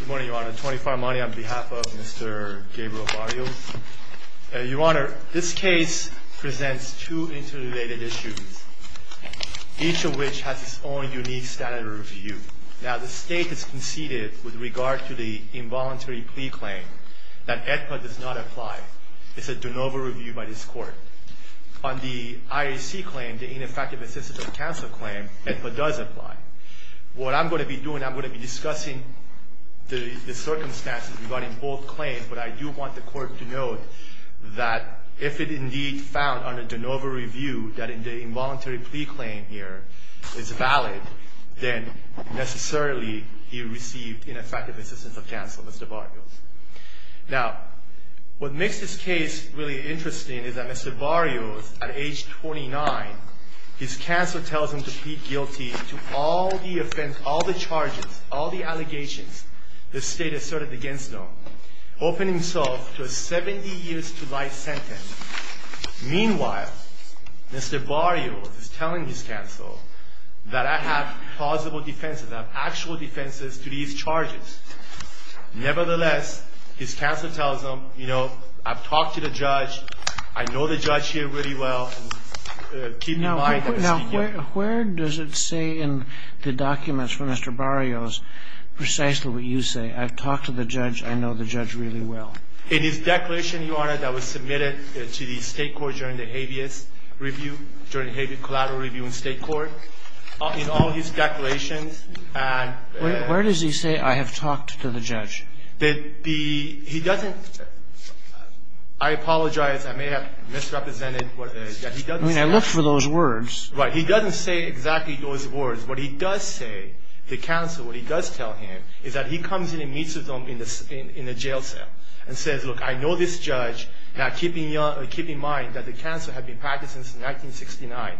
Good morning, Your Honor. Tony Farmani on behalf of Mr. Gabriel Barrios. Your Honor, this case presents two interrelated issues, each of which has its own unique standard of review. Now, the State has conceded with regard to the involuntary plea claim that AEDPA does not apply. It's a de novo review by this Court. On the IAC claim, the ineffective assistance of counsel claim, AEDPA does apply. What I'm going to be doing, I'm going to be discussing the circumstances regarding both claims, but I do want the Court to note that if it indeed found under de novo review that the involuntary plea claim here is valid, then necessarily he received ineffective assistance of counsel, Mr. Barrios. Now, what makes this case really interesting is that Mr. Barrios, at age 29, his counsel tells him to plead guilty to all the offenses, all the charges, all the allegations the State asserted against him, opening himself to a 70 years to life sentence. Meanwhile, Mr. Barrios is telling his counsel that I have plausible defenses, I have actual defenses to these charges. Nevertheless, his counsel tells him, you know, I've talked to the judge, I know the judge here really well, keep in mind that he's guilty. Now, where does it say in the documents from Mr. Barrios precisely what you say? I've talked to the judge, I know the judge really well. In his declaration, Your Honor, that was submitted to the State court during the habeas review, during the habeas collateral review in State court, in all his declarations and ---- Where does he say I have talked to the judge? The ---- he doesn't ---- I apologize. I may have misrepresented what it is. He doesn't say that. I mean, I looked for those words. Right. He doesn't say exactly those words. What he does say, the counsel, what he does tell him is that he comes in and meets with him in the jail cell and says, look, I know this judge. Now, keep in mind that the counsel had been practicing since 1969,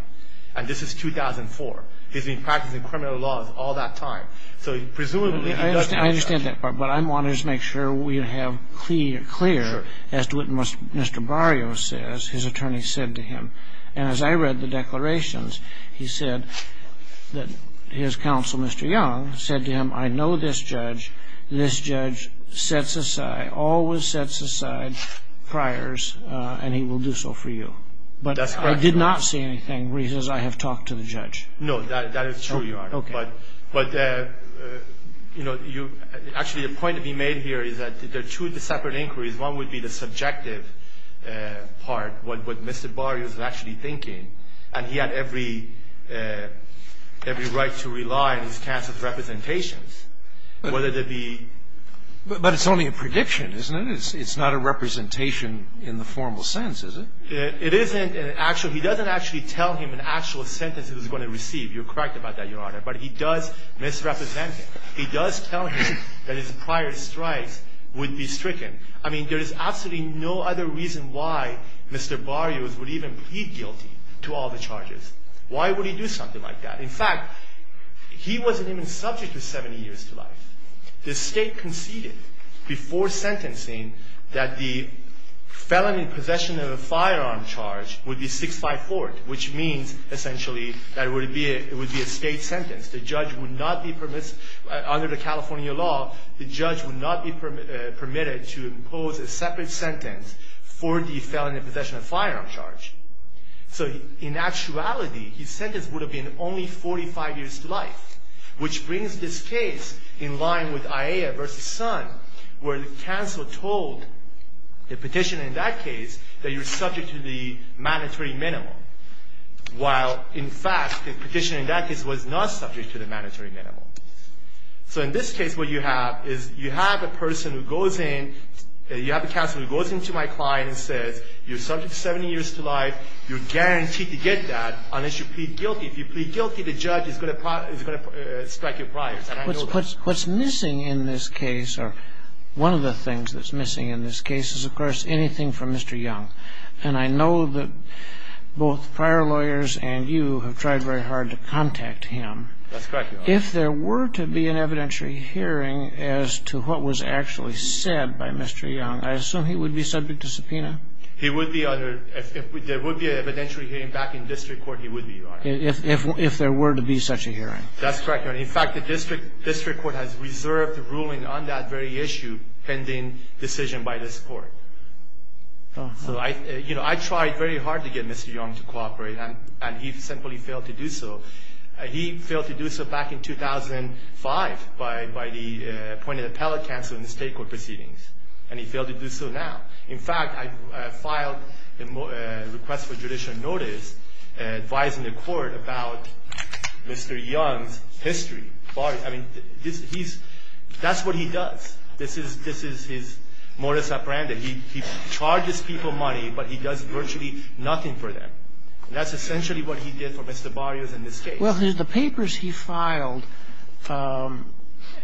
and this is 2004. He's been practicing criminal laws all that time. So presumably he doesn't ---- I understand that part, but I wanted to make sure we have clear, as to what Mr. Barrios says, his attorney said to him. And as I read the declarations, he said that his counsel, Mr. Young, said to him, I know this judge, this judge sets aside, always sets aside priors and he will do so for you. That's correct, Your Honor. But I did not see anything where he says I have talked to the judge. No, that is true, Your Honor. Okay. But, you know, you ---- actually, the point to be made here is that there are two separate inquiries. One would be the subjective part, what Mr. Barrios was actually thinking. And he had every right to rely on his counsel's representations, whether they be ---- But it's only a prediction, isn't it? It's not a representation in the formal sense, is it? It isn't an actual ---- he doesn't actually tell him an actual sentence he was going to receive. You're correct about that, Your Honor. But he does misrepresent him. He does tell him that his prior strikes would be stricken. I mean, there is absolutely no other reason why Mr. Barrios would even plead guilty to all the charges. Why would he do something like that? In fact, he wasn't even subject to 70 years to life. The State conceded before sentencing that the felony possession of a firearm charge would be 654, which means essentially that it would be a State sentence. The judge would not be ---- under the California law, the judge would not be permitted to impose a separate sentence for the felony possession of a firearm charge. So in actuality, his sentence would have been only 45 years to life, which brings this case in line with Aiea v. Son, where the counsel told the petitioner in that case that you're subject to the mandatory minimum, while, in fact, the petitioner in that case was not subject to the mandatory minimum. So in this case, what you have is you have a person who goes in, you have a counsel who goes into my client and says you're subject to 70 years to life, you're guaranteed to get that unless you plead guilty. If you plead guilty, the judge is going to strike your priors. And I know that. What's missing in this case, or one of the things that's missing in this case is, of course, Mr. Young. And I know that both prior lawyers and you have tried very hard to contact him. That's correct, Your Honor. If there were to be an evidentiary hearing as to what was actually said by Mr. Young, I assume he would be subject to subpoena? He would be under ---- if there would be an evidentiary hearing back in district court, he would be, Your Honor. If there were to be such a hearing. That's correct, Your Honor. In fact, the district court has reserved the ruling on that very issue pending decision by this court. So I, you know, I tried very hard to get Mr. Young to cooperate, and he simply failed to do so. He failed to do so back in 2005 by the point of the appellate counsel in the state court proceedings. And he failed to do so now. In fact, I filed a request for judicial notice advising the court about Mr. Young's history. I mean, he's, that's what he does. This is his modus operandi. He charges people money, but he does virtually nothing for them. And that's essentially what he did for Mr. Barrios in this case. Well, the papers he filed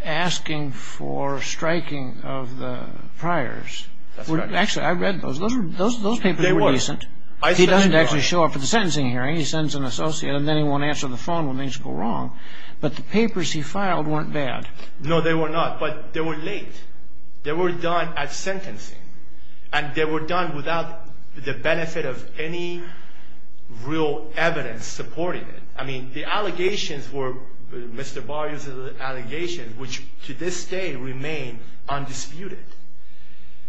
asking for striking of the priors. That's right. Actually, I read those. Those papers were decent. They were. He doesn't actually show up at the sentencing hearing. He sends an associate, and then he won't answer the phone when things go wrong. But the papers he filed weren't bad. No, they were not. But they were late. They were done at sentencing. And they were done without the benefit of any real evidence supporting it. I mean, the allegations were Mr. Barrios' allegations, which to this day remain undisputed.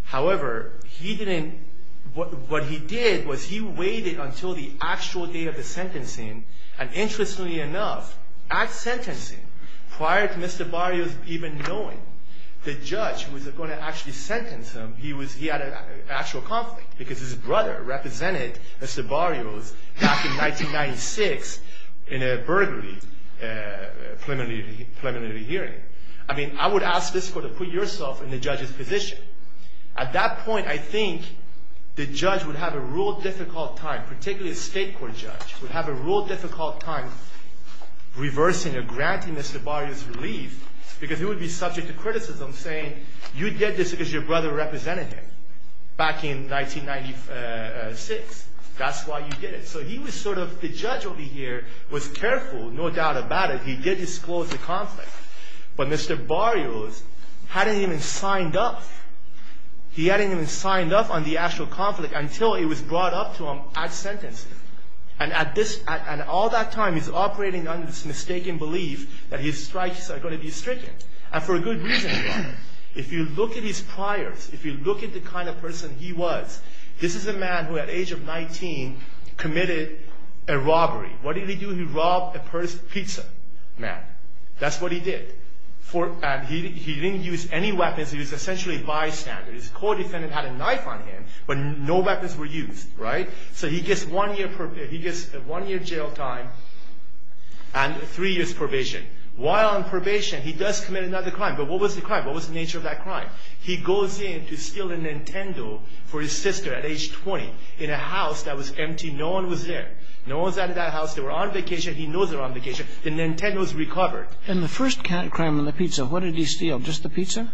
However, he didn't, what he did was he waited until the actual day of the sentencing. And interestingly enough, at sentencing, prior to Mr. Barrios even knowing the judge was going to actually sentence him, he had an actual conflict because his brother represented Mr. Barrios back in 1996 in a burglary preliminary hearing. I mean, I would ask this court to put yourself in the judge's position. At that point, I think the judge would have a real difficult time, particularly a state court judge, would have a real difficult time reversing or granting Mr. Barrios' relief because he would be subject to criticism saying, you did this because your brother represented him back in 1996. That's why you did it. So he was sort of, the judge over here was careful, no doubt about it. He did disclose the conflict. But Mr. Barrios hadn't even signed up. He hadn't even signed up on the actual conflict until it was brought up to him at sentencing. And all that time he's operating under this mistaken belief that his strikes are going to be stricken. And for a good reason. If you look at his priors, if you look at the kind of person he was, this is a man who at age of 19 committed a robbery. What did he do? He robbed a pizza man. That's what he did. He didn't use any weapons. He was essentially bystander. His co-defendant had a knife on him, but no weapons were used. So he gets one year jail time and three years probation. While on probation he does commit another crime. But what was the crime? What was the nature of that crime? He goes in to steal a Nintendo for his sister at age 20 in a house that was empty. No one was there. No one was at that house. They were on vacation. He knows they were on vacation. The Nintendo was recovered. And the first crime on the pizza, what did he steal? Just the pizza?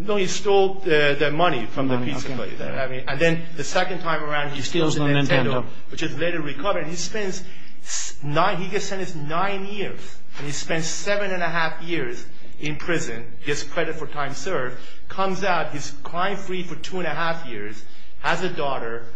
No, he stole the money from the pizza place. And then the second time around he steals the Nintendo, which is later recovered. He gets sentenced nine years. And he spends seven and a half years in prison. Gets credit for time served. Comes out. He's crime free for two and a half years. Has a daughter.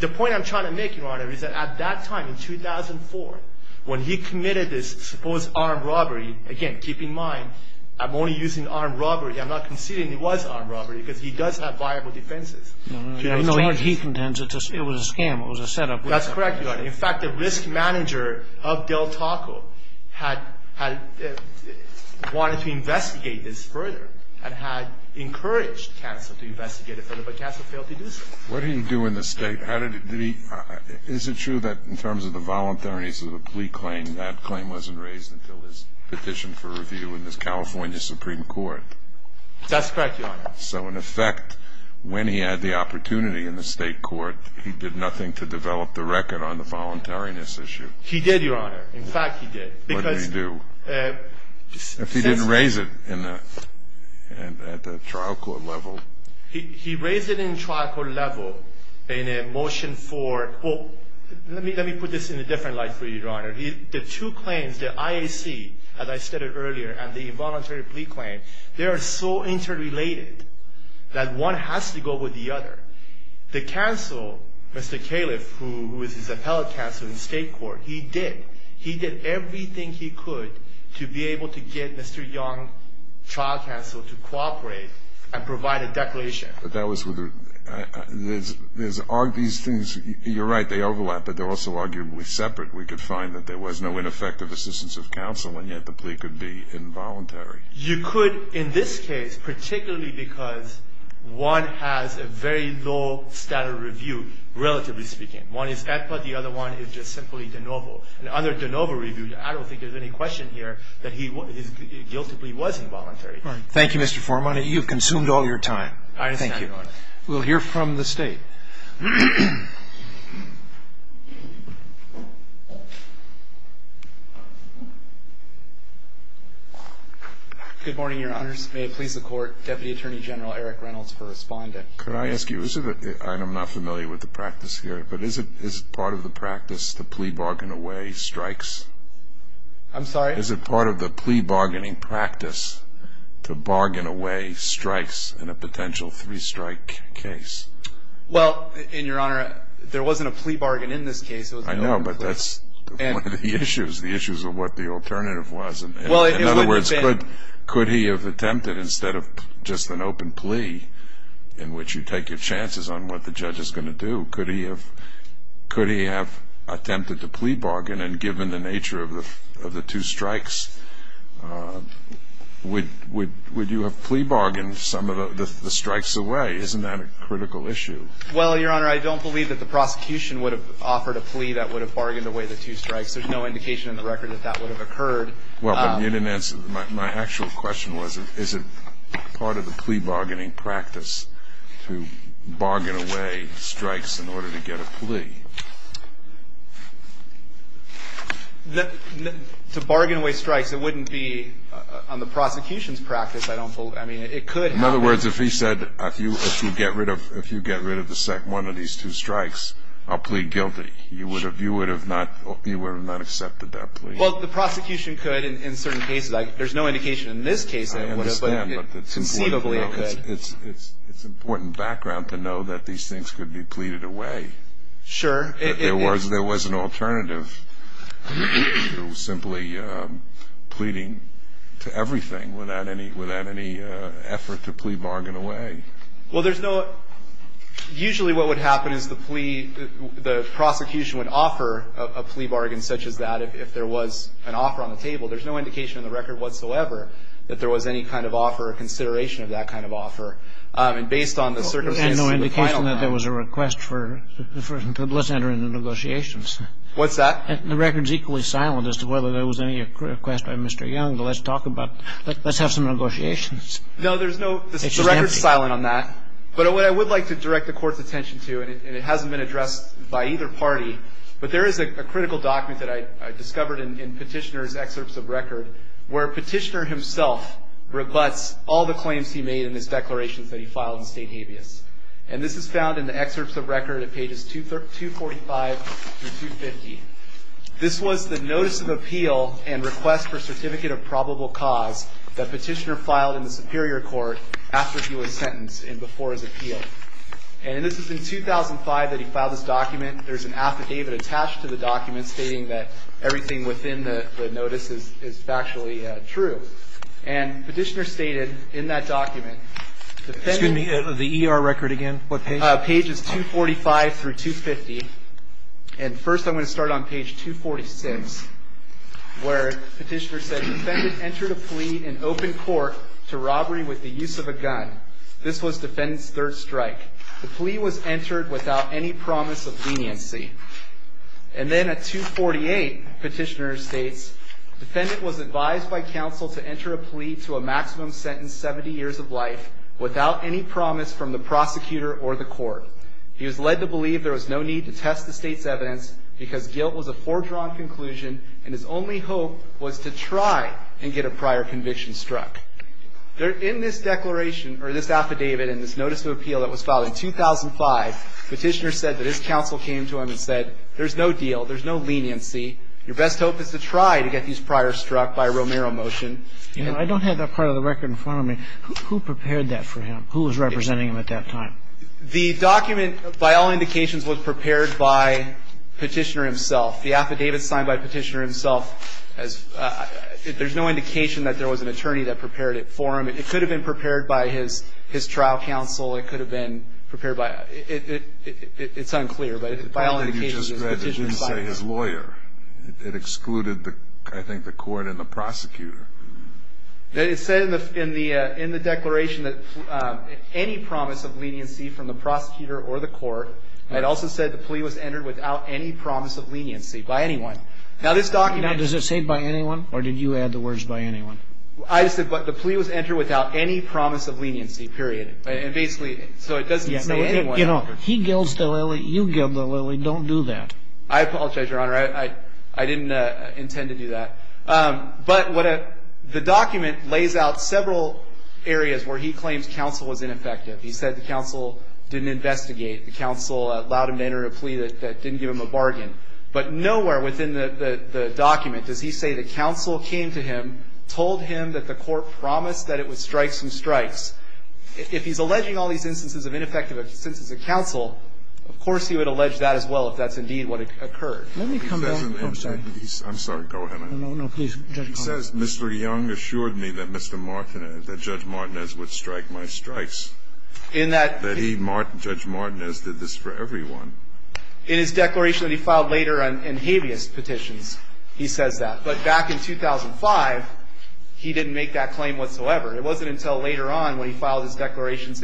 The point I'm trying to make, Your Honor, is that at that time in 2004, when he committed this supposed armed robbery, again, keep in mind, I'm only using armed robbery. I'm not conceding it was armed robbery because he does have viable defenses. I know he contends it was a scam. It was a setup. That's correct, Your Honor. In fact, the risk manager of Del Taco had wanted to investigate this further and had encouraged counsel to investigate it further, but counsel failed to do so. What did he do in the state? Is it true that in terms of the voluntariness of the plea claim, that claim wasn't raised until his petition for review in the California Supreme Court? That's correct, Your Honor. So, in effect, when he had the opportunity in the state court, he did nothing to develop the record on the voluntariness issue. He did, Your Honor. In fact, he did. What did he do? If he didn't raise it at the trial court level. He raised it in trial court level in a motion for, well, let me put this in a different light for you, Your Honor. The two claims, the IAC, as I stated earlier, and the involuntary plea claim, they are so interrelated that one has to go with the other. The counsel, Mr. Califf, who is his appellate counsel in the state court, he did. He did everything he could to be able to get Mr. Young, trial counsel, to cooperate and provide a declaration. But that was with a – there's – these things, you're right, they overlap, but they're also arguably separate. We could find that there was no ineffective assistance of counsel, and yet the plea could be involuntary. You could, in this case, particularly because one has a very low standard of review, relatively speaking. One is EPA, the other one is just simply de novo. And under de novo review, I don't think there's any question here that he guiltily was involuntary. Thank you, Mr. Forman. You've consumed all your time. I understand, Your Honor. Thank you. We'll hear from the State. Good morning, Your Honors. May it please the Court, Deputy Attorney General Eric Reynolds for responding. Could I ask you, is it – and I'm not familiar with the practice here, but is it part of the practice to plea bargain away strikes? I'm sorry? Is it part of the plea bargaining practice to bargain away strikes in a potential three-strike case? Let's say it is. Well, Your Honor, there wasn't a plea bargain in this case. I know, but that's one of the issues, the issues of what the alternative was. In other words, could he have attempted, instead of just an open plea, in which you take your chances on what the judge is going to do, could he have attempted to plea bargain, and given the nature of the two strikes, would you have plea bargained some of the strikes away? Isn't that a critical issue? Well, Your Honor, I don't believe that the prosecution would have offered a plea that would have bargained away the two strikes. There's no indication in the record that that would have occurred. Well, but you didn't answer – my actual question was, is it part of the plea bargaining practice to bargain away strikes in order to get a plea? To bargain away strikes, it wouldn't be on the prosecution's practice. I don't believe – I mean, it could happen. In other words, if he said, if you get rid of the second one of these two strikes, I'll plead guilty, you would have not accepted that plea. Well, the prosecution could in certain cases. There's no indication in this case that it would have, but conceivably it could. I understand, but it's important background to know that these things could be pleaded away. Sure. There was an alternative to simply pleading to everything without any effort to plea bargain away. Well, there's no – usually what would happen is the plea – the prosecution would offer a plea bargain such as that if there was an offer on the table. There's no indication in the record whatsoever that there was any kind of offer or consideration of that kind of offer. And based on the circumstances of the final time – There's no indication that there was a request for – let's enter into negotiations. What's that? The record's equally silent as to whether there was any request by Mr. Young, but let's talk about – let's have some negotiations. No, there's no – the record's silent on that. But what I would like to direct the Court's attention to, and it hasn't been addressed by either party, but there is a critical document that I discovered in Petitioner's excerpts of record where Petitioner himself rebuts all the claims he made in his declarations that he filed in state habeas. And this is found in the excerpts of record at pages 245 through 250. This was the notice of appeal and request for certificate of probable cause that was filed in the Superior Court after he was sentenced and before his appeal. And this was in 2005 that he filed this document. There's an affidavit attached to the document stating that everything within the notice is factually true. And Petitioner stated in that document – Excuse me. The ER record again? What page? Pages 245 through 250. And first I'm going to start on page 246 where Petitioner said, Defendant entered a plea in open court to robbery with the use of a gun. This was Defendant's third strike. The plea was entered without any promise of leniency. And then at 248, Petitioner states, Defendant was advised by counsel to enter a plea to a maximum sentence 70 years of life without any promise from the prosecutor or the court. He was led to believe there was no need to test the state's evidence because guilt was a fore-drawn conclusion and his only hope was to try and get a prior conviction struck. In this declaration or this affidavit and this notice of appeal that was filed in 2005, Petitioner said that his counsel came to him and said, There's no deal. There's no leniency. Your best hope is to try to get these priors struck by a Romero motion. I don't have that part of the record in front of me. Who prepared that for him? Who was representing him at that time? The document, by all indications, was prepared by Petitioner himself. The affidavit signed by Petitioner himself, there's no indication that there was an attorney that prepared it for him. It could have been prepared by his trial counsel. It could have been prepared by his lawyer. It said in the declaration that any promise of leniency from the prosecutor or the court. It also said the plea was entered without any promise of leniency by anyone. Now, this document. Now, does it say by anyone or did you add the words by anyone? I said the plea was entered without any promise of leniency, period. And basically, so it doesn't say anyone. You know, he gills the lily, you gill the lily, don't do that. I apologize, Your Honor. I didn't intend to do that. But the document lays out several areas where he claims counsel was ineffective. He said the counsel didn't investigate, the counsel allowed him to enter a plea that didn't give him a bargain. But nowhere within the document does he say the counsel came to him, told him that the court promised that it would strike some strikes. If he's alleging all these instances of ineffective instances of counsel, of course he would allege that as well if that's indeed what occurred. Let me come back. I'm sorry. Go ahead. No, no, no. Please, Judge Carvin. He says Mr. Young assured me that Mr. Martinez, that Judge Martinez would strike my strikes. In that he... That he, Judge Martinez, did this for everyone. In his declaration that he filed later in habeas petitions, he says that. But back in 2005, he didn't make that claim whatsoever. It wasn't until later on when he filed his declarations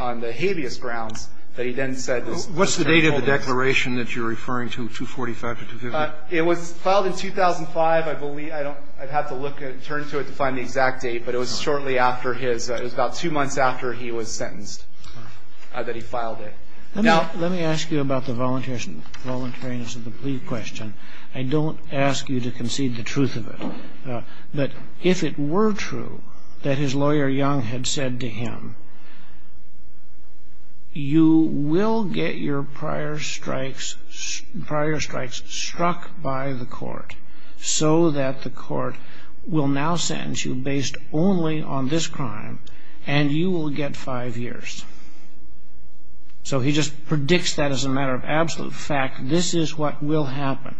on the habeas grounds that he then said this was a terrible offense. What's the date of the declaration that you're referring to, 245 to 250? It was filed in 2005. I believe, I don't, I'd have to look at it, turn to it to find the exact date. But it was shortly after his, it was about two months after he was sentenced that he filed it. Now... Let me ask you about the voluntariness of the plea question. I don't ask you to concede the truth of it. But if it were true that his lawyer Young had said to him, you will get your prior strikes struck by the court, so that the court will now sentence you based only on this crime, and you will get five years. So he just predicts that as a matter of absolute fact. This is what will happen.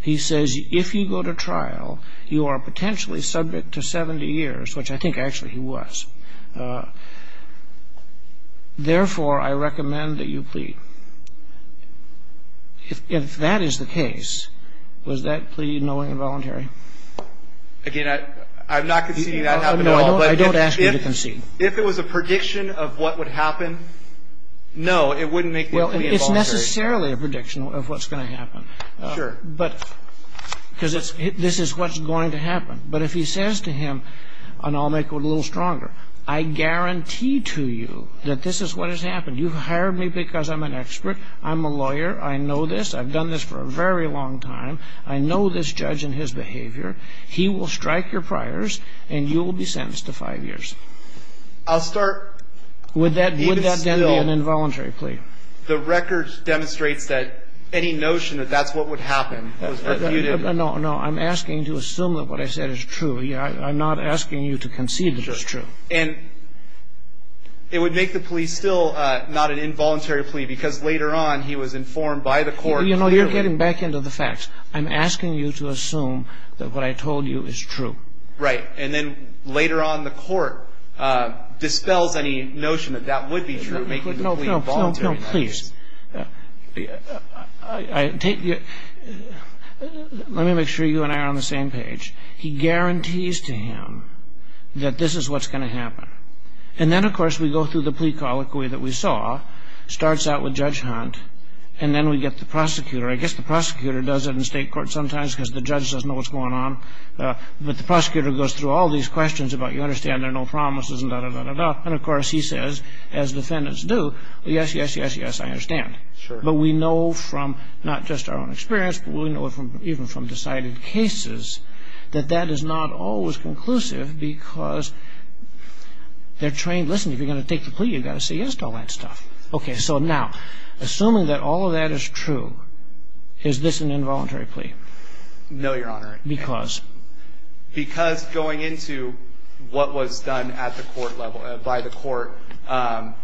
He says, if you go to trial, you are potentially subject to 70 years, which I think actually he was. Therefore, I recommend that you plead. If that is the case, was that plea knowingly involuntary? Again, I'm not conceding that happened at all. No, I don't ask you to concede. If it was a prediction of what would happen, no, it wouldn't make the plea involuntary. Well, it's necessarily a prediction of what's going to happen. Sure. But, because this is what's going to happen. But if he says to him, and I'll make it a little stronger, I guarantee to you that this is what has happened. You've hired me because I'm an expert. I'm a lawyer. I know this. I've done this for a very long time. I know this judge and his behavior. He will strike your priors, and you will be sentenced to five years. I'll start. Would that then be an involuntary plea? The record demonstrates that any notion that that's what would happen was refuted. No, no. I'm asking to assume that what I said is true. I'm not asking you to concede that it's true. Sure. And it would make the plea still not an involuntary plea because later on he was informed by the court. You know, you're getting back into the facts. I'm asking you to assume that what I told you is true. Right. And then later on the court dispels any notion that that would be true, making the plea involuntary. No, please. Let me make sure you and I are on the same page. He guarantees to him that this is what's going to happen. And then, of course, we go through the plea colloquy that we saw. It starts out with Judge Hunt, and then we get the prosecutor. I guess the prosecutor does it in state court sometimes because the judge doesn't know what's going on. But the prosecutor goes through all these questions about, you understand, there are no promises and da-da-da-da-da. And, of course, he says, as defendants do, yes, yes, yes, yes, I understand. Sure. But we know from not just our own experience, but we know even from decided cases, that that is not always conclusive because they're trained. Listen, if you're going to take the plea, you've got to say yes to all that stuff. Okay, so now, assuming that all of that is true, is this an involuntary plea? No, Your Honor. Because? Because going into what was done at the court level, by the court, I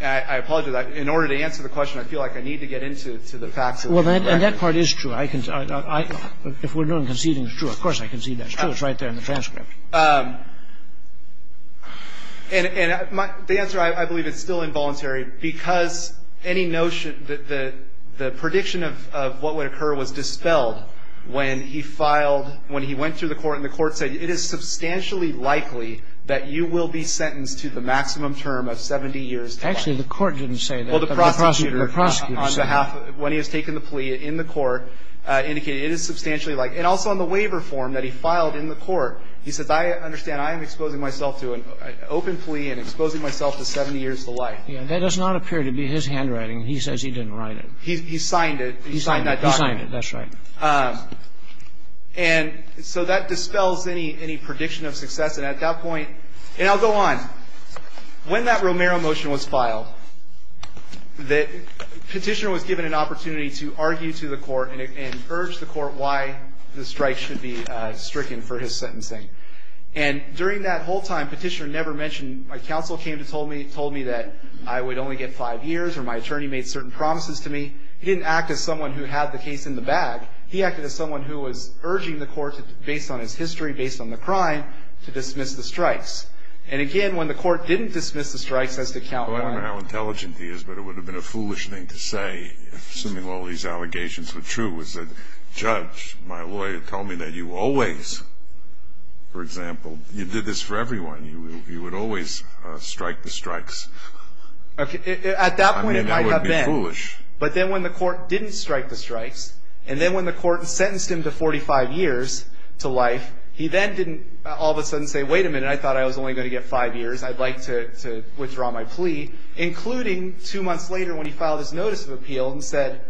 apologize. In order to answer the question, I feel like I need to get into the facts. Well, that part is true. If we're doing conceding, it's true. Of course I concede that. It's true. It's right there in the transcript. And the answer, I believe, is still involuntary because any notion that the prediction of what would occur was dispelled when he filed, when he went through the court and the court said, it is substantially likely that you will be sentenced to the maximum term of 70 years to life. Actually, the court didn't say that. Well, the prosecutor said. The prosecutor said. When he was taking the plea in the court, indicated it is substantially likely. And also on the waiver form that he filed in the court, he says, I understand, I am exposing myself to an open plea and exposing myself to 70 years to life. That does not appear to be his handwriting. He says he didn't write it. He signed it. He signed that document. He signed it. That's right. And so that dispels any prediction of success. And at that point, and I'll go on. When that Romero motion was filed, the petitioner was given an opportunity to argue to the court and urge the court why the strike should be stricken for his sentencing. And during that whole time, the petitioner never mentioned, my counsel came to me and told me that I would only get five years or my attorney made certain promises to me. He didn't act as someone who had the case in the bag. He acted as someone who was urging the court, based on his history, based on the crime, to dismiss the strikes. And, again, when the court didn't dismiss the strikes as to count one. Well, I don't know how intelligent he is, but it would have been a foolish thing to say, assuming all these allegations were true, was that judge, my lawyer, told me that you always, for example, you did this for everyone. You would always strike the strikes. At that point, it might have been. I mean, that would be foolish. But then when the court didn't strike the strikes, and then when the court sentenced him to 45 years to life, he then didn't all of a sudden say, wait a minute, I thought I was only going to get five years. I'd like to withdraw my plea, including two months later when he filed his notice of appeal and said,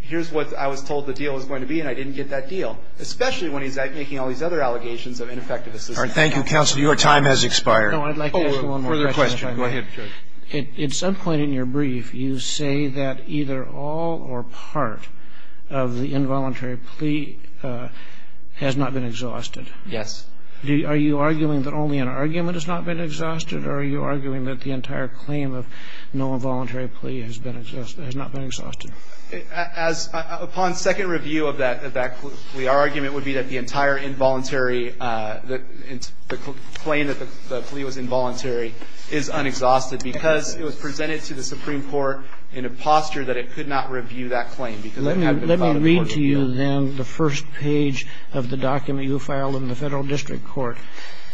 here's what I was told the deal was going to be, and I didn't get that deal, especially when he's making all these other allegations of ineffective assistance. Thank you, counsel. Your time has expired. No, I'd like to ask one more question. Go ahead, Judge. At some point in your brief, you say that either all or part of the involuntary plea has not been exhausted. Yes. Are you arguing that only an argument has not been exhausted, or are you arguing that the entire claim of no involuntary plea has been exhausted, has not been exhausted? As upon second review of that plea, our argument would be that the entire involuntary the claim that the plea was involuntary is unexhausted because it was presented to the Supreme Court in a posture that it could not review that claim. Let me read to you then the first page of the document you filed in the Federal District Court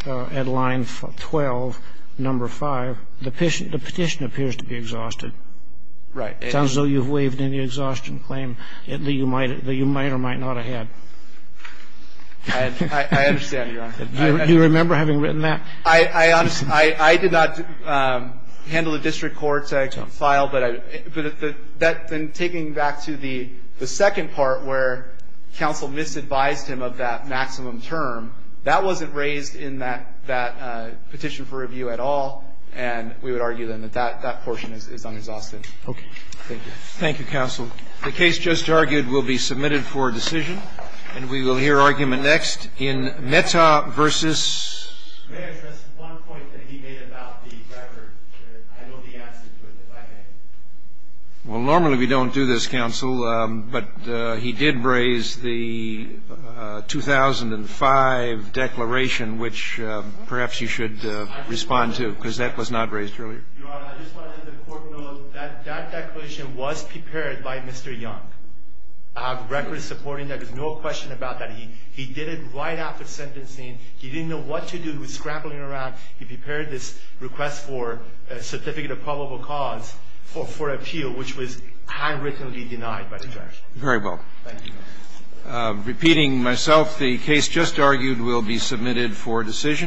at line 12, number 5. The petition appears to be exhausted. Right. It sounds as though you've waived any exhaustion claim that you might or might not have had. I understand, Your Honor. Do you remember having written that? I did not handle the district court file, but that then taking back to the second part where counsel misadvised him of that maximum term, that wasn't raised in that petition for review at all, and we would argue then that that portion is unexhausted. Okay. Thank you. Thank you, counsel. The case just argued will be submitted for decision, and we will hear argument next in Meta v. May I address one point that he made about the record? I know the answer to it, if I may. Well, normally we don't do this, counsel, but he did raise the 2005 declaration, which perhaps you should respond to, because that was not raised earlier. Your Honor, I just wanted the court to know that that declaration was prepared by Mr. Young. I have records supporting that. There's no question about that. He did it right after sentencing. He didn't know what to do. He was scrambling around. He prepared this request for a certificate of probable cause for appeal, which was handwrittenly denied by the judge. Very well. Thank you, Your Honor. Repeating myself, the case just argued will be submitted for decision.